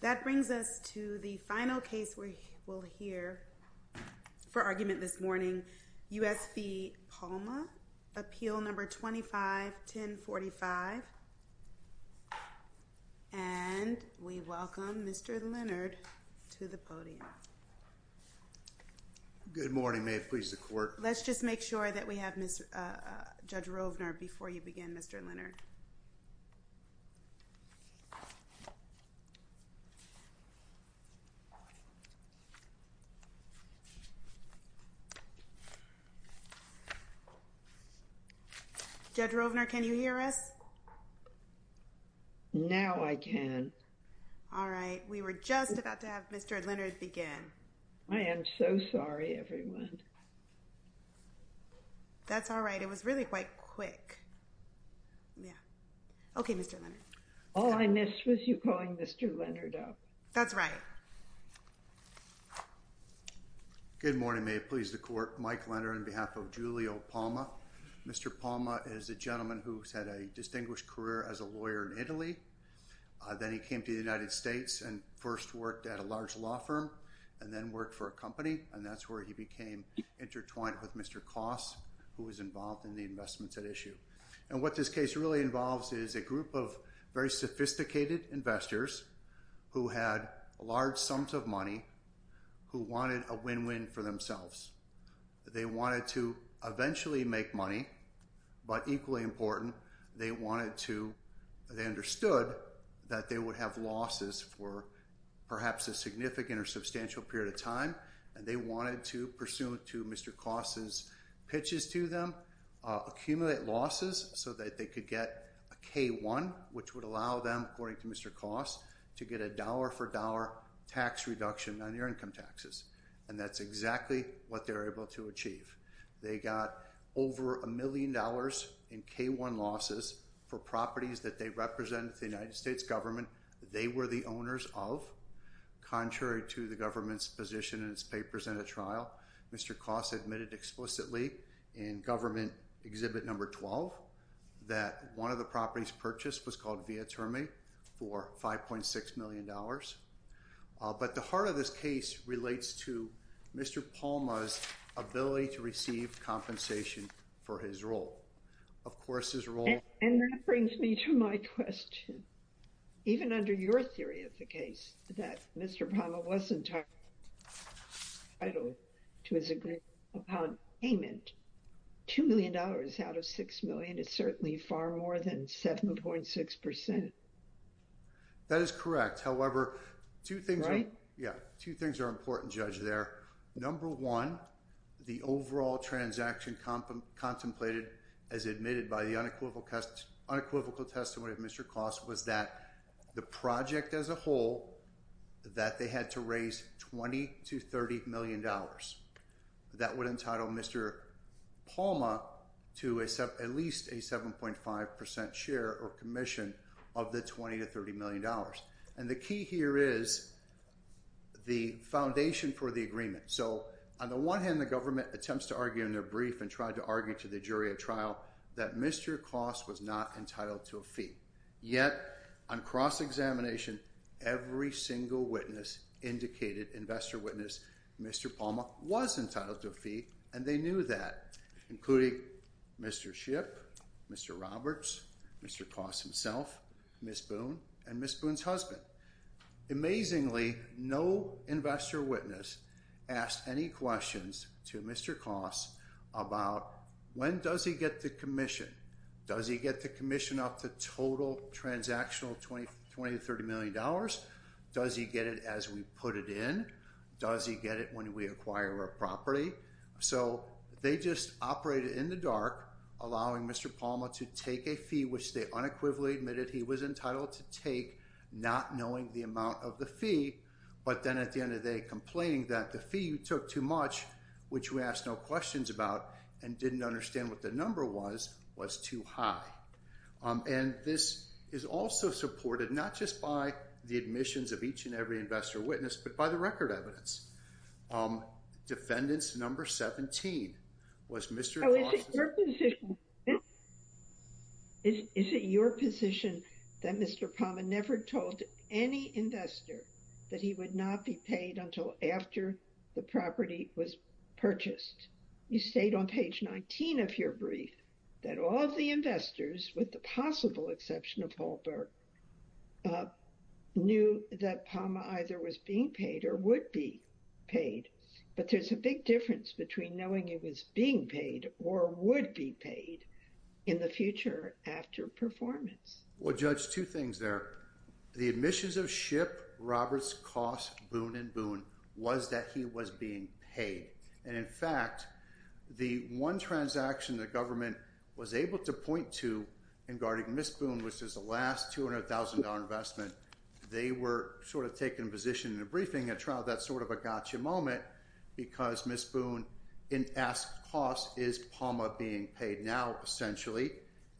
That brings us to the final case we will hear for argument this morning. U.S. v. Palma, Appeal No. 25-1045. And we welcome Mr. Leonard to the podium. Good morning. May it please the Court. Let's just make sure that we have Judge Rovner before you begin, Mr. Leonard. Judge Rovner, can you hear us? Now I can. All right. We were just about to have Mr. Leonard begin. I am so sorry, everyone. That's all right. It was really quite quick. Okay, Mr. Leonard. All I missed was you calling Mr. Leonard up. That's right. Good morning. May it please the Court. Mike Leonard on behalf of Giulio Palma. Mr. Palma is a gentleman who has had a distinguished career as a lawyer in Italy. Then he came to the United States and first worked at a large law firm and then worked for a company. And that's where he became intertwined with Mr. Koss, who was involved in the investments at issue. And what this case really involves is a group of very sophisticated investors who had large sums of money, who wanted a win-win for themselves. They wanted to eventually make money. But equally important, they understood that they would have losses for perhaps a significant or substantial period of time. And they wanted to, pursuant to Mr. Koss's pitches to them, accumulate losses so that they could get a K-1, which would allow them, according to Mr. Koss, to get a dollar-for-dollar tax reduction on their income taxes. And that's exactly what they were able to achieve. They got over a million dollars in K-1 losses for properties that they represented in the United States government K-1 they were the owners of. Contrary to the government's position in its papers in a trial, Mr. Koss admitted explicitly in government exhibit number 12 that one of the properties purchased was called Via Terme for $5.6 million. But the heart of this case relates to Mr. Palma's ability to receive compensation for his role. And that brings me to my question. Even under your theory of the case, that Mr. Palma wasn't entitled to his agreement upon payment, $2 million out of $6 million is certainly far more than 7.6%. That is correct. However, two things are important, Judge, there. Number one, the overall transaction contemplated as admitted by the unequivocal testimony of Mr. Koss was that the project as a whole, that they had to raise $20 to $30 million. That would entitle Mr. Palma to at least a 7.5% share or commission of the $20 to $30 million. And the key here is the foundation for the agreement. So, on the one hand, the government attempts to argue in their brief and tried to argue to the jury at trial that Mr. Koss was not entitled to a fee. Yet, on cross-examination, every single witness indicated, investor witness, Mr. Palma was entitled to a fee, and they knew that, including Mr. Shipp, Mr. Roberts, Mr. Koss himself, Ms. Boone, and Ms. Boone's husband. Amazingly, no investor witness asked any questions to Mr. Koss about when does he get the commission? Does he get the commission up to total transactional $20 to $30 million? Does he get it as we put it in? Does he get it when we acquire a property? So, they just operated in the dark, allowing Mr. Palma to take a fee, which they unequivocally admitted he was entitled to take, not knowing the amount of the fee, but then at the end of the day, complaining that the fee you took too much, which we asked no questions about, and didn't understand what the number was, was too high. And this is also supported not just by the admissions of each and every investor witness, but by the record evidence. Defendants number 17 was Mr. Koss. Is it your position that Mr. Palma never told any investor that he would not be paid until after the property was purchased? You state on page 19 of your brief that all of the investors, with the possible exception of Hallberg, knew that Palma either was being paid or would be paid. But there's a big difference between knowing he was being paid or would be paid in the future after performance. Well, Judge, two things there. The admissions of Shipp, Roberts, Koss, Boone, and Boone was that he was being paid. And in fact, the one transaction the government was able to point to in guarding Ms. Boone, which is the last $200,000 investment, they were sort of taking a position in a briefing at trial. That's sort of a gotcha moment, because Ms. Boone in asks Koss, is Palma being paid now, essentially?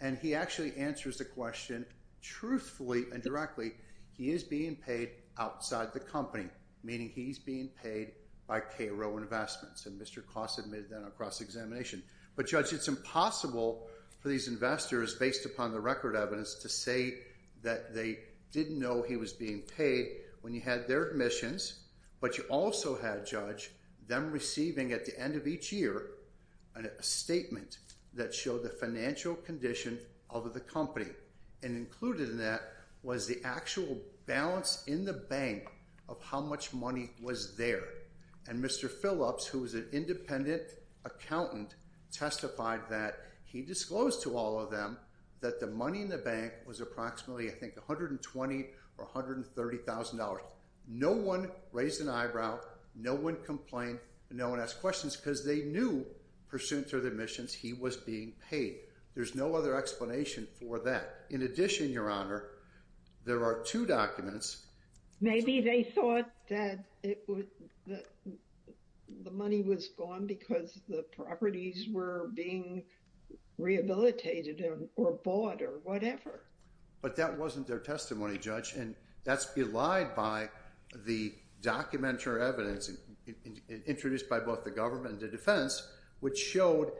And he actually answers the question truthfully and directly. He is being paid outside the company, meaning he's being paid by KRO Investments. And Mr. Koss admitted that on cross-examination. But, Judge, it's impossible for these investors, based upon the record evidence, to say that they didn't know he was being paid when you had their admissions, but you also had, Judge, them receiving at the end of each year a statement that showed the financial condition of the company. And included in that was the actual balance in the bank of how much money was there. And Mr. Phillips, who was an independent accountant, testified that he disclosed to all of them that the money in the bank was approximately, I think, $120,000 or $130,000. No one raised an eyebrow, no one complained, no one asked questions, because they knew, pursuant to their admissions, he was being paid. There's no other explanation for that. In addition, Your Honor, there are two documents. Maybe they thought that the money was gone because the properties were being rehabilitated or bought or whatever. But that wasn't their testimony, Judge. And that's belied by the documentary evidence introduced by both the government and the defense, which showed,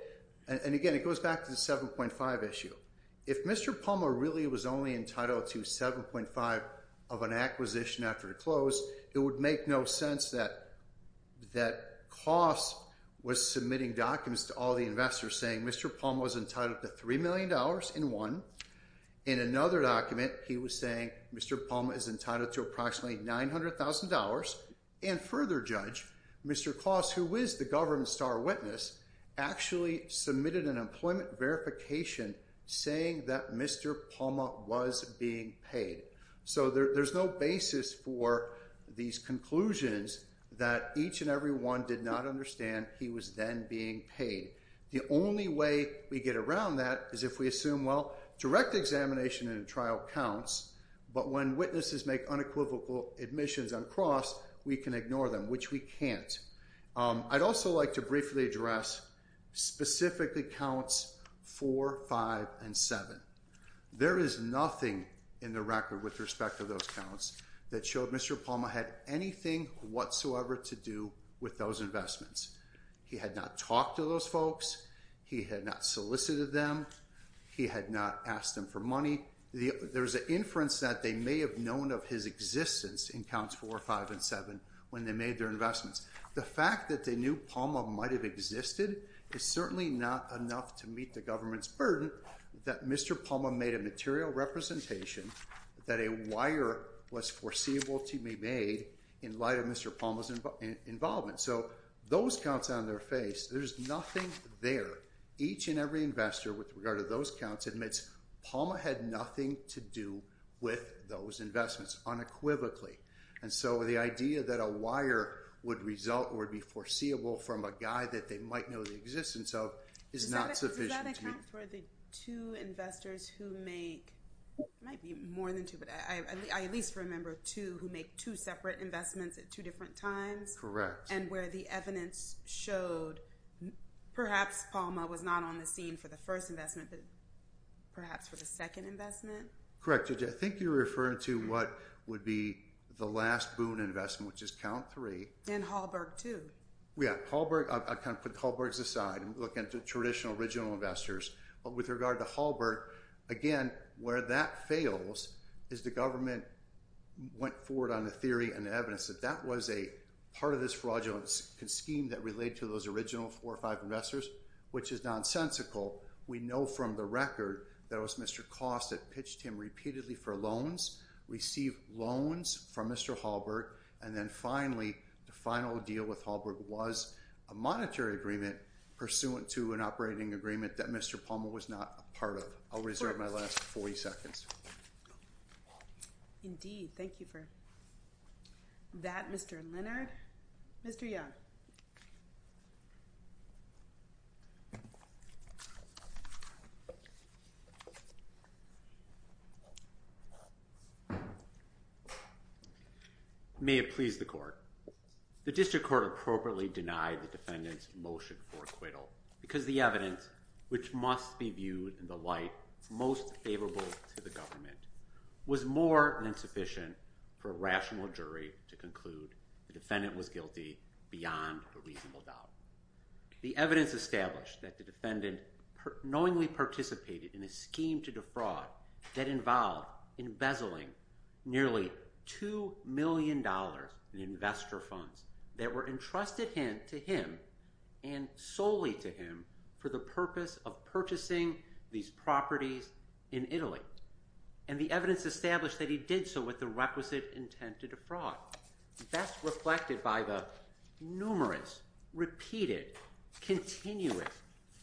and again, it goes back to the 7.5 issue. If Mr. Palma really was only entitled to 7.5 of an acquisition after the close, it would make no sense that Kloss was submitting documents to all the investors saying Mr. Palma was entitled to $3 million in one. In another document, he was saying Mr. Palma is entitled to approximately $900,000. And further, Judge, Mr. Kloss, who is the government star witness, actually submitted an employment verification saying that Mr. Palma was being paid. So there's no basis for these conclusions that each and every one did not understand he was then being paid. The only way we get around that is if we assume, well, direct examination in a trial counts, but when witnesses make unequivocal admissions on Kloss, we can ignore them, which we can't. I'd also like to briefly address specifically counts 4, 5, and 7. There is nothing in the record with respect to those counts that showed Mr. Palma had anything whatsoever to do with those investments. He had not talked to those folks. He had not solicited them. He had not asked them for money. There's an inference that they may have known of his existence in counts 4, 5, and 7 when they made their investments. The fact that they knew Palma might have existed is certainly not enough to meet the government's burden that Mr. Palma made a material representation that a wire was foreseeable to be made in light of Mr. Palma's involvement. So those counts on their face, there's nothing there. Each and every investor with regard to those counts admits Palma had nothing to do with those investments unequivocally. And so the idea that a wire would result or be foreseeable from a guy that they might know the existence of is not sufficient. Does that account for the two investors who make, it might be more than two, but I at least remember two who make two separate investments at two different times? Correct. And where the evidence showed perhaps Palma was not on the scene for the first investment but perhaps for the second investment? Correct. I think you're referring to what would be the last Boone investment, which is count 3. And Hallberg, too. Yeah. Hallberg, I kind of put Hallbergs aside and look into traditional original investors. With regard to Hallberg, again, where that fails is the government went forward on the theory and evidence that that was a part of this fraudulent scheme that related to those original four or five investors, which is nonsensical. We know from the record that it was Mr. Cost that pitched him repeatedly for loans, received loans from Mr. Hallberg, and then finally the final deal with Hallberg was a monetary agreement pursuant to an operating agreement that Mr. Palma was not a part of. I'll reserve my last 40 seconds. Indeed. Thank you for that, Mr. Leonard. Mr. Young. May it please the court. The district court appropriately denied the defendant's motion for acquittal because the evidence, which must be viewed in the light most favorable to the government, was more than sufficient for a rational jury to conclude the defendant was guilty beyond a reasonable doubt. The evidence established that the defendant knowingly participated in a scheme to defraud that involved embezzling nearly $2 million in investor funds that were entrusted to him and solely to him for the purpose of purchasing these properties in Italy. And the evidence established that he did so with the requisite intent to defraud. Best reflected by the numerous, repeated, continuous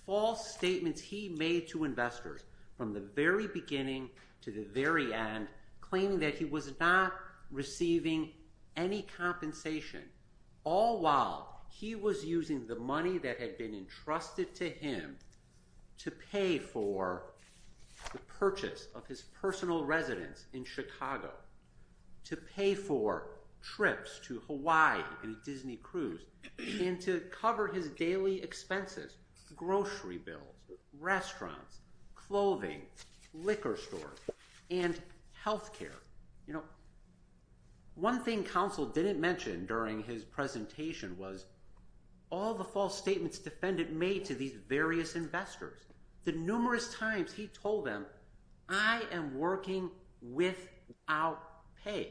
false statements he made to investors from the very beginning to the very end claiming that he was not receiving any compensation all while he was using the money that had been entrusted to him to pay for the purchase of his personal residence in Chicago, to pay for trips to Hawaii and Disney Cruise, and to cover his daily expenses, grocery bills, restaurants, clothing, liquor stores, and health care. You know, one thing counsel didn't mention during his presentation was all the false statements the defendant made to these various investors. The numerous times he told them, I am working without pay.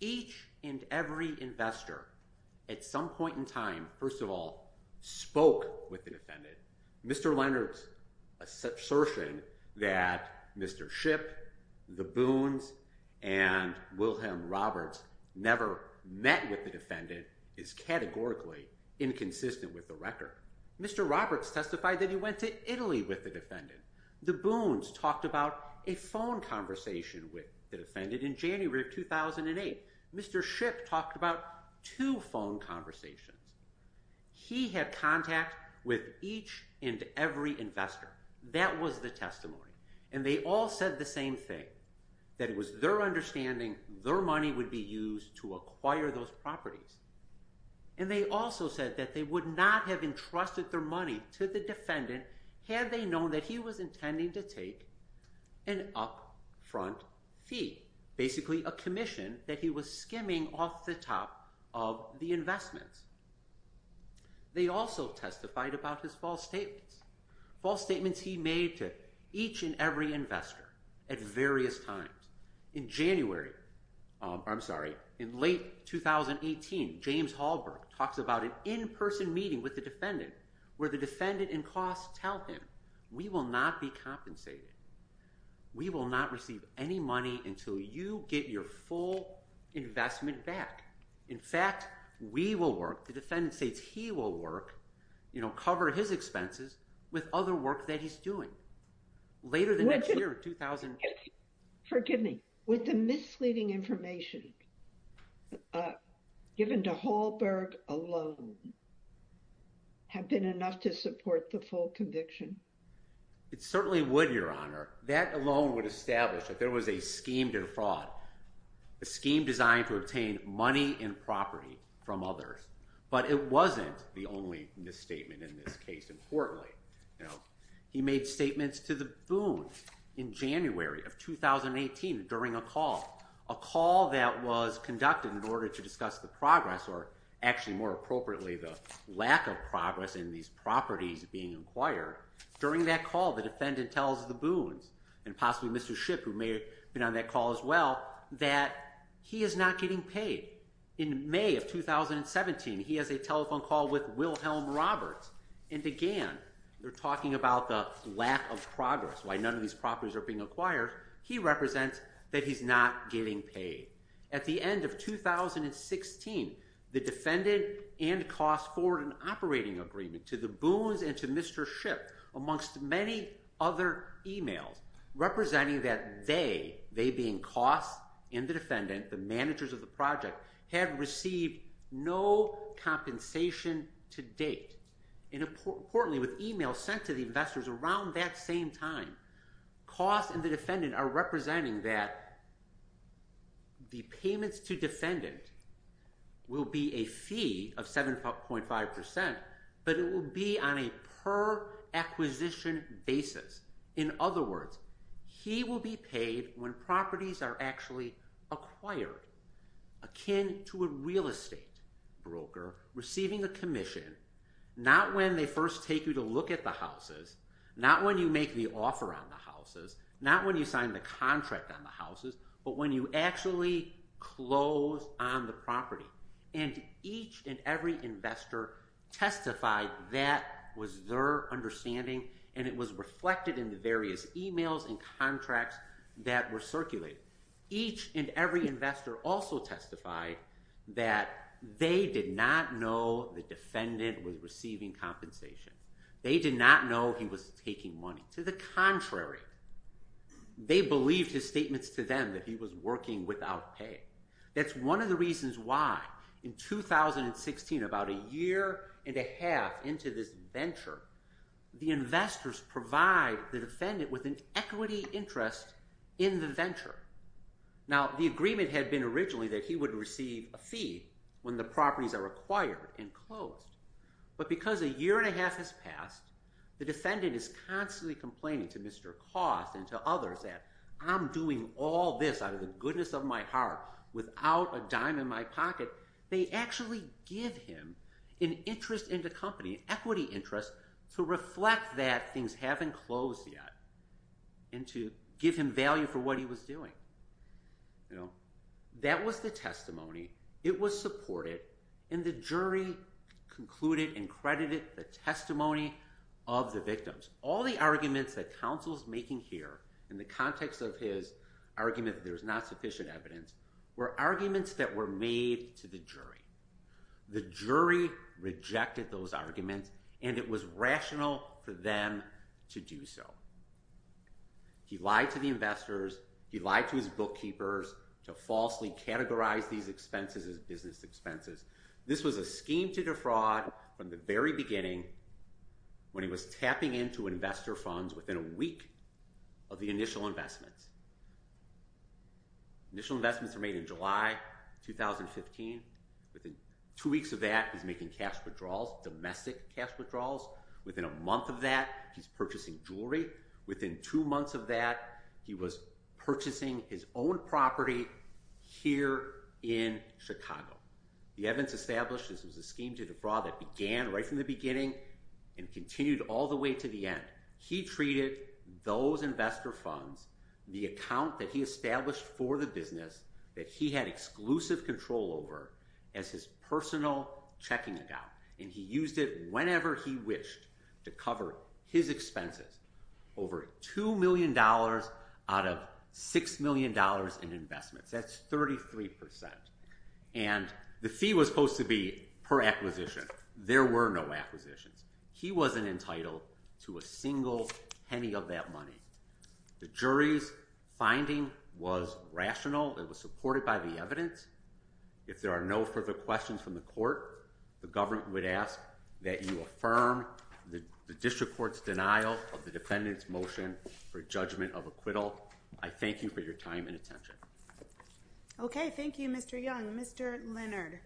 Each and every investor at some point in time, first of all, spoke with the defendant. Mr. Leonard's assertion that Mr. Shipp, the Boons, and Wilhelm Roberts never met with the defendant is categorically inconsistent with the record. Mr. Roberts testified that he went to Italy with the defendant. The Boons talked about a phone conversation with the defendant in January of 2008. Mr. Shipp talked about two phone conversations. He had contact with each and every investor. That was the testimony, and they all said the same thing, that it was their understanding their money would be used to acquire those properties. And they also said that they would not have entrusted their money to the defendant had they known that he was intending to take an upfront fee, basically a commission that he was skimming off the top of the investments. They also testified about his false statements. False statements he made to each and every investor at various times. In late 2018, James Hallberg talks about an in-person meeting with the defendant where the defendant and costs tell him, we will not be compensated. We will not receive any money until you get your full investment back. In fact, we will work, the defendant states he will work, you know, cover his expenses with other work that he's doing. Later the next year, 2000... Would the misleading information given to Hallberg alone have been enough to support the full conviction? It certainly would, Your Honor. That alone would establish that there was a scheme to fraud, a scheme designed to obtain money and property from others. But it wasn't the only misstatement in this case, importantly. Now, he made statements to the Boone in January of 2018 during a call, a call that was conducted in order to discuss the progress, or actually more appropriately the lack of progress in these properties being acquired. During that call, the defendant tells the Boones, and possibly Mr. Shipp who may have been on that call as well, that he is not getting paid. In May of 2017, he has a telephone call with Wilhelm Roberts, and again, they're talking about the lack of progress, why none of these properties are being acquired. He represents that he's not getting paid. At the end of 2016, the defendant and costs forward an operating agreement to the Boones and to Mr. Shipp amongst many other e-mails representing that they, they being costs and the defendant, the managers of the project, have received no compensation to date. Importantly, with e-mails sent to the investors around that same time, costs and the defendant are representing that the payments to defendant will be a fee of 7.5%, but it will be on a per acquisition basis. In other words, he will be paid when properties are actually acquired, akin to a real estate broker receiving a commission, not when they first take you to look at the houses, not when you make the offer on the houses, not when you sign the contract on the houses, but when you actually close on the property. And each and every investor testified that was their understanding, and it was reflected in the various e-mails and contracts that were circulated. Each and every investor also testified that they did not know the defendant was receiving compensation. They did not know he was taking money. To the contrary, they believed his statements to them that he was working without pay. That's one of the reasons why in 2016, about a year and a half into this venture, the investors provide the defendant with an equity interest in the venture. Now, the agreement had been originally that he would receive a fee when the properties are acquired and closed, but because a year and a half has passed, the defendant is constantly complaining to Mr. Koss and to others that I'm doing all this out of the goodness of my heart without a dime in my pocket. They actually give him an interest in the company, an equity interest to reflect that things haven't closed yet and to give him value for what he was doing. That was the testimony. It was supported, and the jury concluded and credited the testimony of the victims. All the arguments that counsel's making here, in the context of his argument that there's not sufficient evidence, were arguments that were made to the jury. The jury rejected those arguments, and it was rational for them to do so. He lied to the investors. He lied to his bookkeepers to falsely categorize these expenses as business expenses. This was a scheme to defraud from the very beginning when he was tapping into investor funds within a week of the initial investments. Initial investments were made in July 2015. Within two weeks of that, he's making cash withdrawals, domestic cash withdrawals. Within a month of that, he's purchasing jewelry. Within two months of that, he was purchasing his own property here in Chicago. The evidence established this was a scheme to defraud that began right from the beginning and continued all the way to the end. He treated those investor funds, the account that he established for the business that he had exclusive control over, as his personal checking account. He used it whenever he wished to cover his expenses. Over $2 million out of $6 million in investments. That's 33%. The fee was supposed to be per acquisition. There were no acquisitions. He wasn't entitled to a single penny of that money. The jury's finding was rational. It was supported by the evidence. If there are no further questions from the court, the government would ask that you affirm the district court's denial of the defendant's motion for judgment of acquittal. I thank you for your time and attention. Okay, thank you, Mr. Young. Mr. Leonard.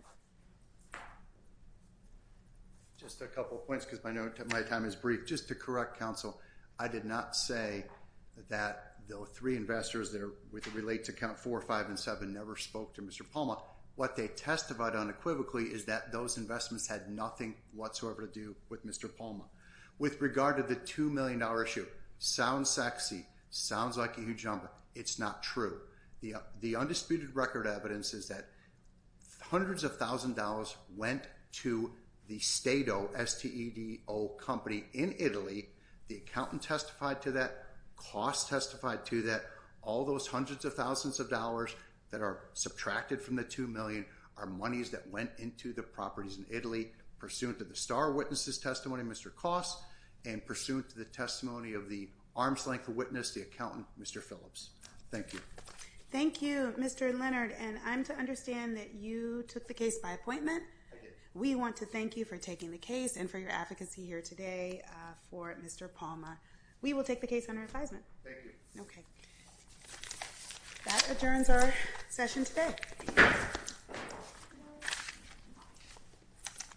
Just a couple of points, because my time is brief. Just to correct counsel, I did not say that the three investors that relate to account four, five, and seven never spoke to Mr. Palma. What they testified unequivocally is that those investments had nothing whatsoever to do with Mr. Palma. With regard to the $2 million issue, sounds sexy, sounds like a huge number. It's not true. The undisputed record evidence is that hundreds of thousand dollars went to the Stato, S-T-E-D-O company in Italy. The accountant testified to that. Koss testified to that. All those hundreds of thousands of dollars that are subtracted from the $2 million are monies that went into the properties in Italy, pursuant to the star witness's testimony, Mr. Koss, and pursuant to the testimony of the arm's length witness, the accountant, Mr. Phillips. Thank you. Thank you, Mr. Leonard. And I'm to understand that you took the case by appointment. I did. We want to thank you for taking the case and for your advocacy here today for Mr. Palma. We will take the case under advisement. Thank you. Okay. That adjourns our session today.